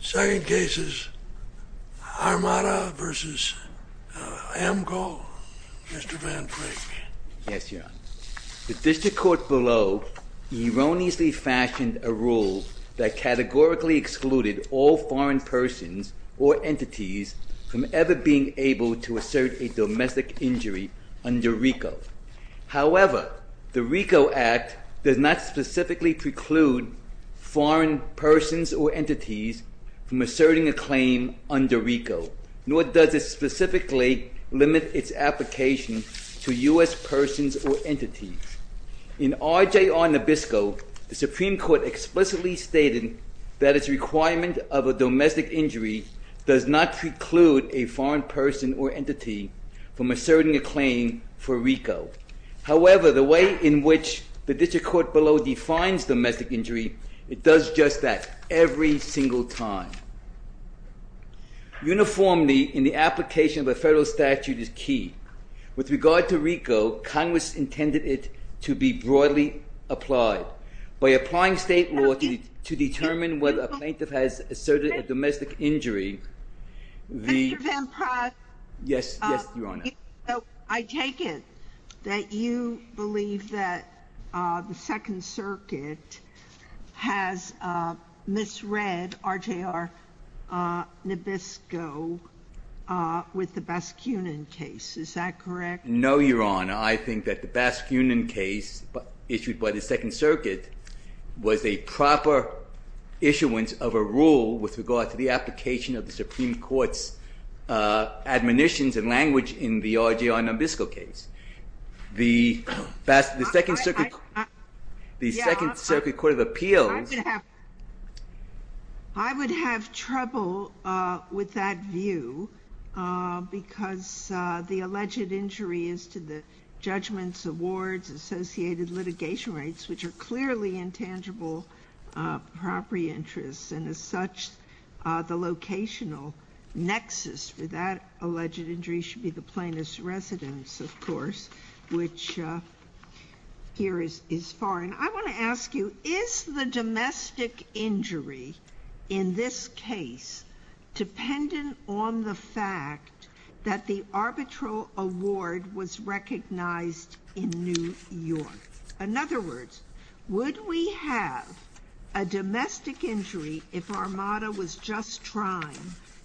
Second case is Armada v. Amcol. Mr. Van Flake. Yes, Your Honor. The district court below erroneously fashioned a rule that categorically excluded all foreign persons or entities from ever being able to assert a domestic injury under RICO. However, the RICO Act does not specifically preclude foreign persons or entities from asserting a claim under RICO, nor does it specifically limit its application to U.S. persons or entities. In RJR Nabisco, the Supreme Court explicitly stated that its requirement of a domestic injury does not preclude a foreign person or entity from asserting a claim for RICO. However, the way in which the district court below defines domestic injury, it does just that every single time. Uniformity in the application of a federal statute is key. With regard to RICO, Congress intended it to be broadly applied. By applying state law to determine whether a plaintiff has asserted a domestic injury... Mr. Van Praat. Yes, Your Honor. I take it that you believe that the Second Circuit has misread RJR Nabisco with the Baskunin case. Is that correct? No, Your Honor. I think that the Baskunin case issued by the Second Circuit was a proper issuance of a rule with regard to the application of the Supreme Court's admonitions and language in the RJR Nabisco case. The Second Circuit Court of Appeals... ...judgments, awards, associated litigation rights, which are clearly intangible property interests, and as such, the locational nexus for that alleged injury should be the plaintiff's residence, of course, which here is foreign. I want to ask you, is the domestic injury in this case dependent on the fact that the arbitral award was recognized in New York? In other words, would we have a domestic injury if Armada was just trying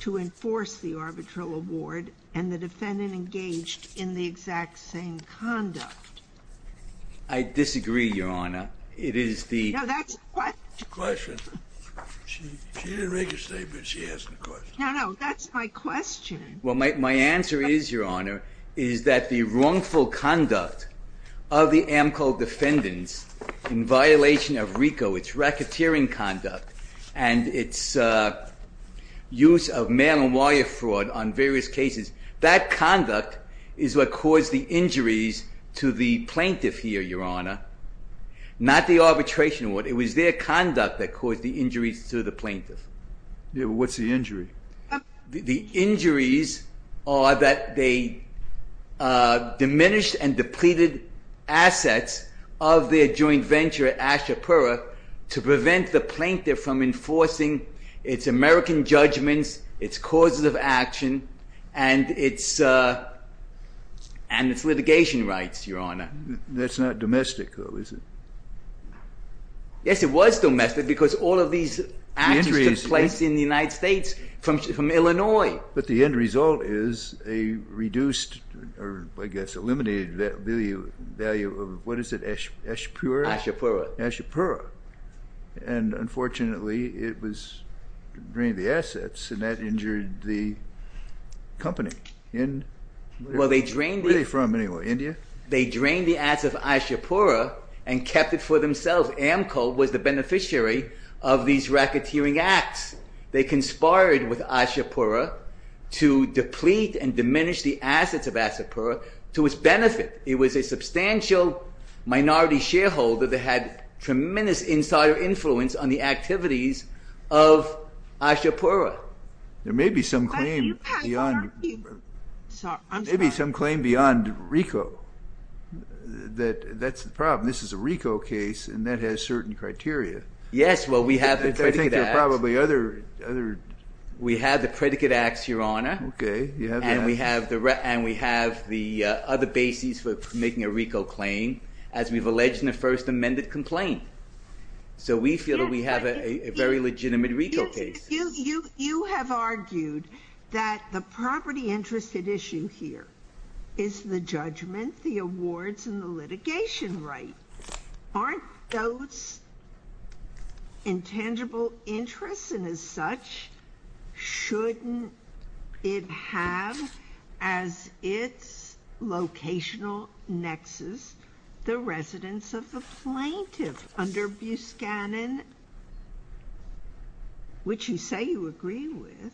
to enforce the arbitral award and the defendant engaged in the exact same conduct? I disagree, Your Honor. It is the... No, that's the question. She didn't make a statement. She asked a question. No, no, that's my question. Well, my answer is, Your Honor, is that the wrongful conduct of the AMCO defendants in violation of RICO, its racketeering conduct, and its use of mail-and-wire fraud on various cases, that conduct is what caused the injuries to the plaintiff here, Your Honor, not the arbitration award. It was their conduct that caused the injuries to the plaintiff. Yeah, but what's the injury? The injuries are that they diminished and depleted assets of their joint venture at Ashapura to prevent the plaintiff from enforcing its American judgments, its causes of action, and its litigation rights, Your Honor. That's not domestic, though, is it? Yes, it was domestic because all of these actions took place in the United States from Illinois. But the end result is a reduced or, I guess, eliminated value of, what is it, Ashapura? Ashapura. Ashapura. And, unfortunately, it drained the assets, and that injured the company in... Well, they drained... Where are they from, anyway, India? They drained the assets of Ashapura and kept it for themselves. Amco was the beneficiary of these racketeering acts. They conspired with Ashapura to deplete and diminish the assets of Ashapura to its benefit. It was a substantial minority shareholder that had tremendous insider influence on the activities of Ashapura. There may be some claim beyond RICO. That's the problem. This is a RICO case, and that has certain criteria. Yes, well, we have the predicate acts. I think there are probably other... We have the predicate acts, Your Honor. Okay, you have that. And we have the other bases for making a RICO claim, as we've alleged in the first amended complaint. So we feel that we have a very legitimate RICO case. You have argued that the property interest at issue here is the judgment, the awards, and the litigation right. Aren't those intangible interests? shouldn't it have as its locational nexus the residence of the plaintiff under Biscannon, which you say you agree with?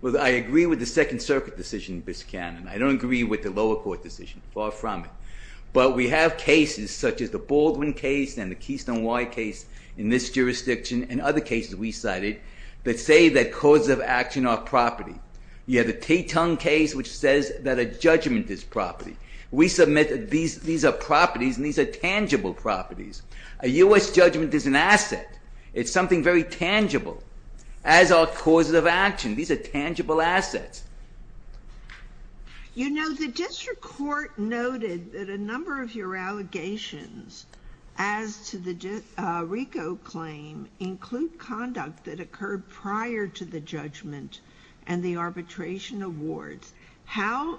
Well, I agree with the Second Circuit decision in Biscannon. I don't agree with the lower court decision. Far from it. But we have cases such as the Baldwin case and the Keystone Y case in this jurisdiction and other cases we cited that say that causes of action are property. You have the Teton case, which says that a judgment is property. We submit that these are properties, and these are tangible properties. A U.S. judgment is an asset. It's something very tangible as are causes of action. These are tangible assets. You know, the district court noted that a number of your allegations as to the RICO claim include conduct that occurred prior to the judgment and the arbitration awards. How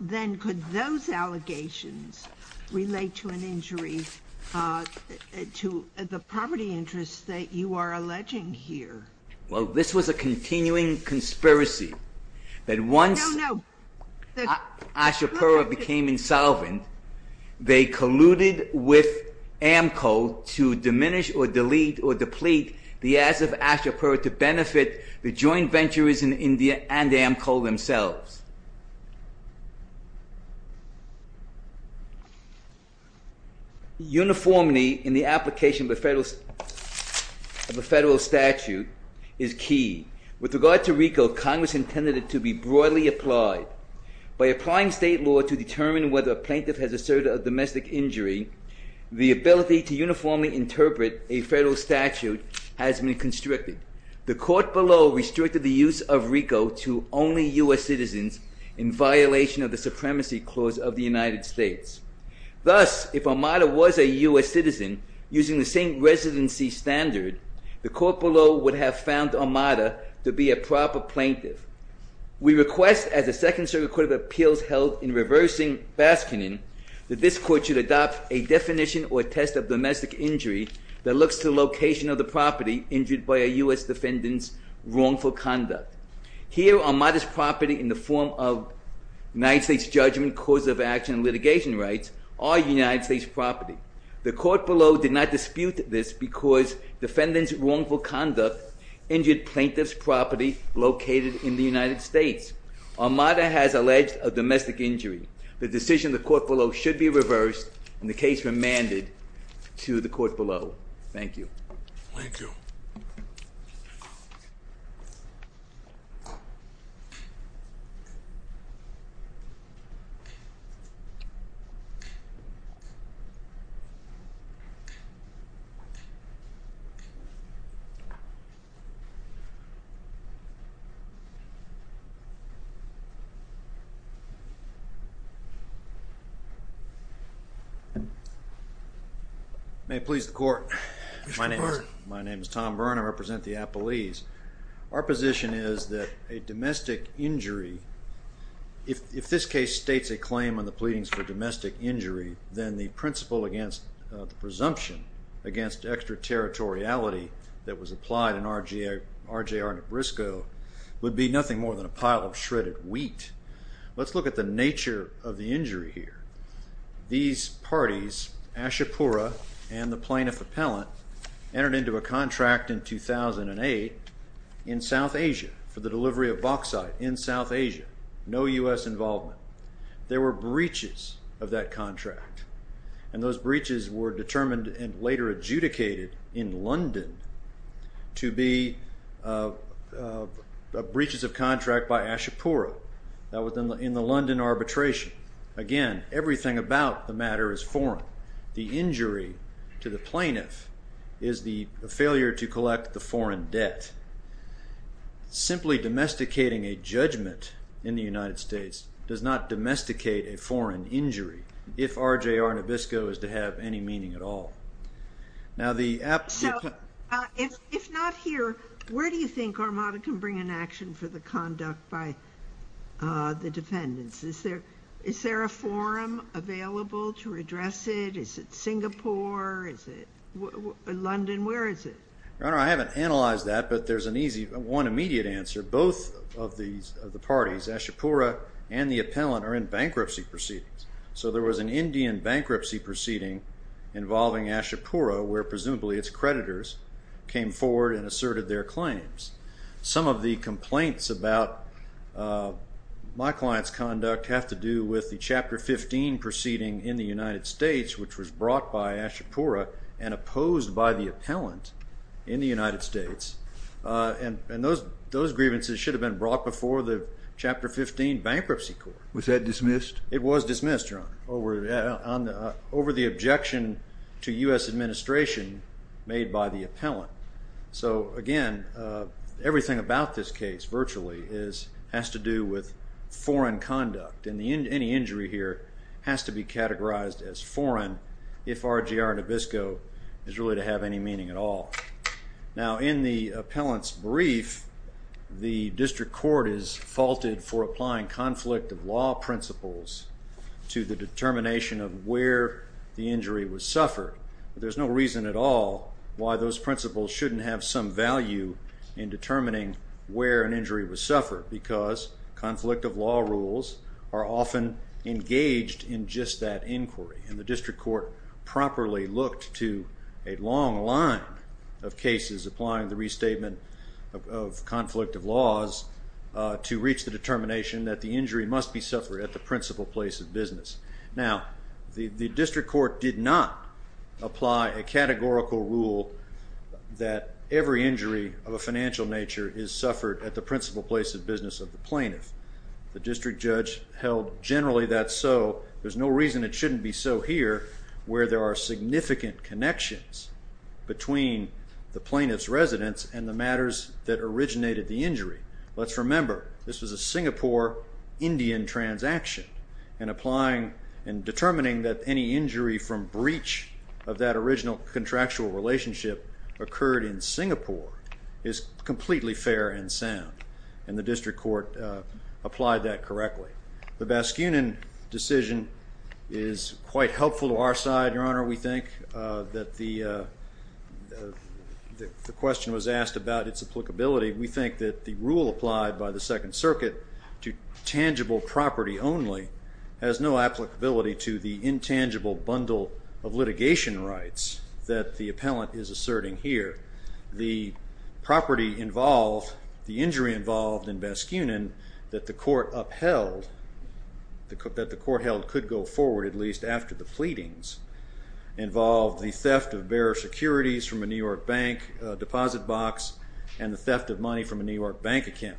then could those allegations relate to an injury to the property interests that you are alleging here? Well, this was a continuing conspiracy. No, no. That once ASHA-PERA became insolvent, they colluded with AMCO to diminish or delete or deplete the assets of ASHA-PERA to benefit the joint ventures in India and AMCO themselves. Uniformity in the application of a federal statute is key. With regard to RICO, Congress intended it to be broadly applied. By applying state law to determine whether a plaintiff has asserted a domestic injury, the ability to uniformly interpret a federal statute has been constricted. The court below restricted the use of RICO to only U.S. citizens in violation of the Supremacy Clause of the United States. Thus, if Armada was a U.S. citizen using the same residency standard, the court below would have found Armada to be a proper plaintiff. We request, as the Second Circuit Court of Appeals held in reversing Baskinon, that this court should adopt a definition or test of domestic injury that looks to the location of the property injured by a U.S. defendant's wrongful conduct. Here, Armada's property in the form of United States judgment, cause of action, and litigation rights are United States property. The court below did not dispute this because defendant's wrongful conduct injured plaintiff's property located in the United States. Armada has alleged a domestic injury. The decision of the court below should be reversed and the case remanded to the court below. Thank you. Thank you. Thank you. May it please the court. Mr. Byrne. My name is Tom Byrne. I represent the appellees. Our position is that a domestic injury, if this case states a claim on the pleadings for domestic injury, then the principle against the presumption against extraterritoriality that was applied in RJR Nebraska would be nothing more than a pile of shredded wheat. Let's look at the nature of the injury here. These parties, Ashapura and the plaintiff appellant, entered into a contract in 2008 in South Asia for the delivery of bauxite in South Asia. No U.S. involvement. There were breaches of that contract, and those breaches were determined and later adjudicated in London to be breaches of contract by Ashapura. That was in the London arbitration. Again, everything about the matter is foreign. The injury to the plaintiff is the failure to collect the foreign debt. Simply domesticating a judgment in the United States does not domesticate a foreign injury if RJR Nabisco is to have any meaning at all. If not here, where do you think Armada can bring an action for the conduct by the defendants? Is there a forum available to address it? Is it Singapore? Is it London? Where is it? Your Honor, I haven't analyzed that, but there's one immediate answer. Both of the parties, Ashapura and the appellant, are in bankruptcy proceedings. So there was an Indian bankruptcy proceeding involving Ashapura where presumably its creditors came forward and asserted their claims. Some of the complaints about my client's conduct have to do with the Chapter 15 proceeding in the United States, which was brought by Ashapura and opposed by the appellant in the United States, and those grievances should have been brought before the Chapter 15 bankruptcy court. Was that dismissed? It was dismissed, Your Honor, over the objection to U.S. administration made by the appellant. So again, everything about this case virtually has to do with foreign conduct, and any injury here has to be categorized as foreign if RJR Nabisco is really to have any meaning at all. Now, in the appellant's brief, the district court is faulted for applying conflict of law principles to the determination of where the injury was suffered. There's no reason at all why those principles shouldn't have some value in determining where an injury was suffered because conflict of law rules are often engaged in just that inquiry, and the district court properly looked to a long line of cases applying the restatement of conflict of laws to reach the determination that the injury must be suffered at the principal place of business. Now, the district court did not apply a categorical rule that every injury of a financial nature is suffered at the principal place of business of the plaintiff. The district judge held generally that so. There's no reason it shouldn't be so here where there are significant connections between the plaintiff's residence and the matters that originated the injury. Let's remember, this was a Singapore-Indian transaction, and applying and determining that any injury from breach of that original contractual relationship occurred in Singapore is completely fair and sound, and the district court applied that correctly. The Baskunin decision is quite helpful to our side, Your Honor. We think that the question was asked about its applicability. We think that the rule applied by the Second Circuit to tangible property only has no applicability to the intangible bundle of litigation rights that the appellant is asserting here. The property involved, the injury involved in Baskunin that the court upheld, that the court held could go forward at least after the pleadings, involved the theft of bearer securities from a New York bank deposit box and the theft of money from a New York bank account.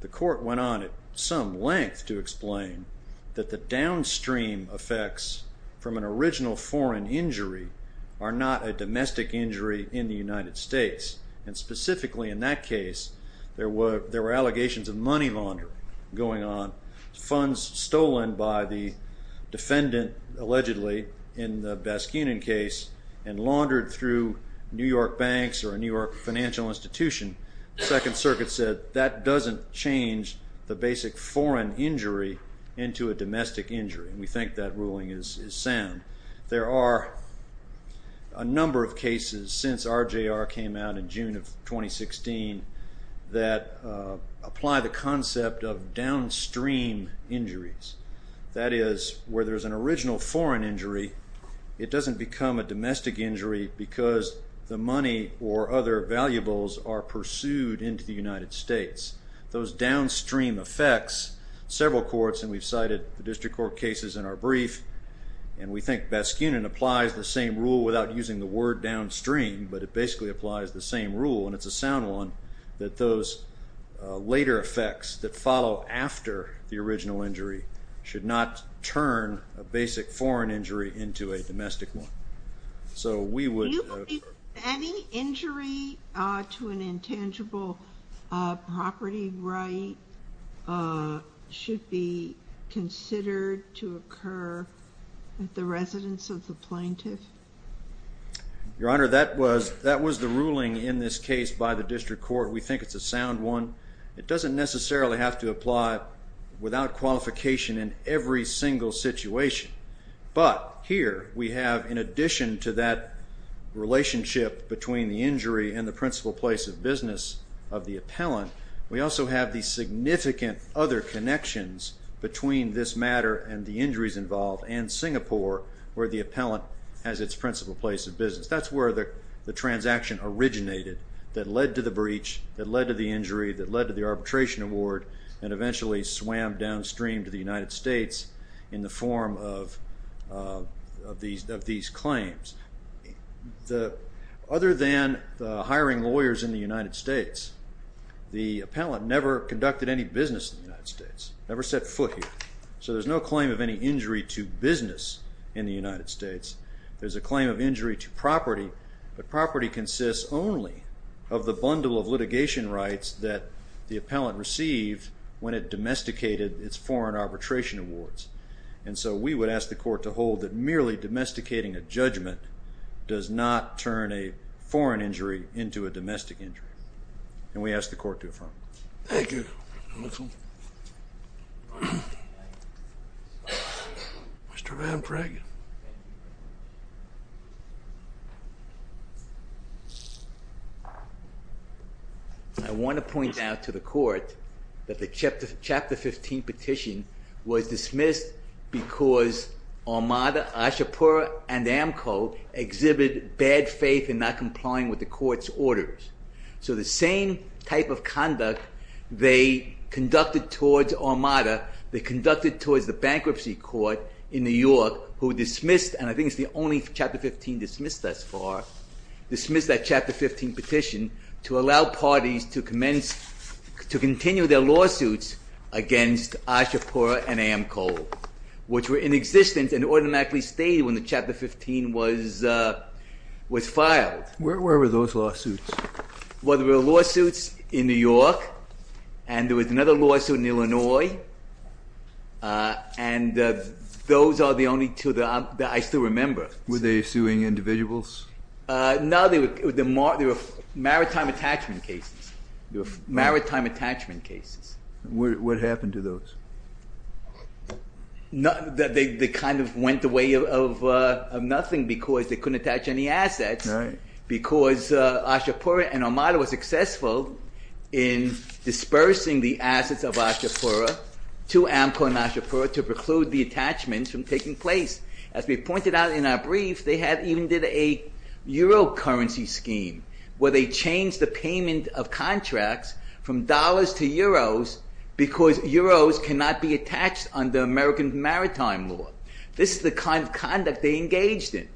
The court went on at some length to explain that the downstream effects from an original foreign injury are not a domestic injury in the United States, and specifically in that case there were allegations of money laundering going on, funds stolen by the defendant allegedly in the Baskunin case and laundered through New York banks or a New York financial institution. The Second Circuit said that doesn't change the basic foreign injury into a domestic injury, and we think that ruling is sound. There are a number of cases since RJR came out in June of 2016 that apply the concept of downstream injuries. That is, where there's an original foreign injury, it doesn't become a domestic injury because the money or other valuables are pursued into the United States. Those downstream effects, several courts, and we've cited the district court cases in our brief, and we think Baskunin applies the same rule without using the word downstream, but it basically applies the same rule, and it's a sound one, that those later effects that follow after the original injury should not turn a basic foreign injury into a domestic one. Do you believe that any injury to an intangible property right should be considered to occur at the residence of the plaintiff? Your Honor, that was the ruling in this case by the district court. We think it's a sound one. It doesn't necessarily have to apply without qualification in every single situation, but here we have, in addition to that relationship between the injury and the principal place of business of the appellant, we also have the significant other connections between this matter and the injuries involved and Singapore, where the appellant has its principal place of business. That's where the transaction originated that led to the breach, that led to the injury, that led to the arbitration award, and eventually swam downstream to the United States in the form of these claims. Other than the hiring lawyers in the United States, the appellant never conducted any business in the United States, never set foot here. So there's no claim of any injury to business in the United States. There's a claim of injury to property, but property consists only of the bundle of litigation rights that the appellant received when it domesticated its foreign arbitration awards. And so we would ask the court to hold that merely domesticating a judgment does not turn a foreign injury into a domestic injury, and we ask the court to affirm. Thank you. Mr. Van Pragen. I want to point out to the court that the Chapter 15 petition was dismissed because Armada, Ashapur, and AMCO exhibit bad faith in not complying with the court's orders. So the same type of conduct they conducted towards Armada, they conducted towards the bankruptcy court in New York who dismissed, and I think it's the only Chapter 15 dismissed thus far, dismissed that Chapter 15 petition to allow parties to continue their lawsuits against Ashapur and AMCO, which were in existence and automatically stayed when the Chapter 15 was filed. Where were those lawsuits? Well, there were lawsuits in New York, and there was another lawsuit in Illinois, and those are the only two that I still remember. Were they suing individuals? No, they were maritime attachment cases. What happened to those? They kind of went away of nothing because they couldn't attach any assets because Ashapur and Armada were successful in dispersing the assets of Ashapur to AMCO and Ashapur to preclude the attachments from taking place. As we pointed out in our brief, they even did a euro currency scheme where they changed the payment of contracts from dollars to euros because euros cannot be attached under American maritime law. This is the kind of conduct they engaged in,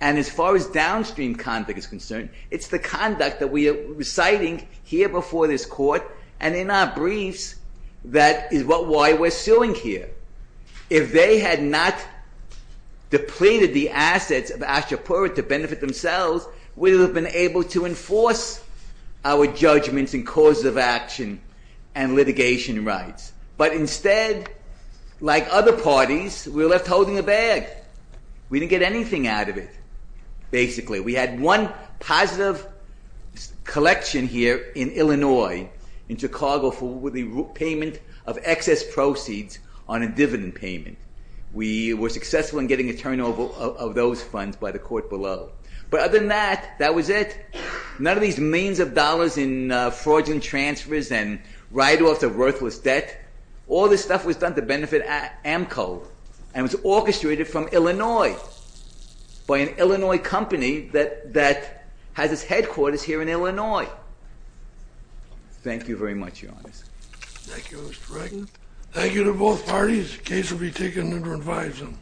and as far as downstream conduct is concerned, it's the conduct that we are reciting here before this court and in our briefs that is why we're suing here. If they had not depleted the assets of Ashapur to benefit themselves, we would have been able to enforce our judgments and causes of action and litigation rights, but instead, like other parties, we were left holding a bag. We didn't get anything out of it, basically. We had one positive collection here in Illinois, in Chicago, for the payment of excess proceeds on a dividend payment. We were successful in getting a turnover of those funds by the court below, but other than that, that was it. None of these millions of dollars in fraudulent transfers and write-offs of worthless debt, all this stuff was done to benefit AMCO and was orchestrated from Illinois by an Illinois company that has its headquarters here in Illinois. Thank you very much, Your Honor. Thank you, Mr. Reagan. Thank you to both parties. The case will be taken under advisement.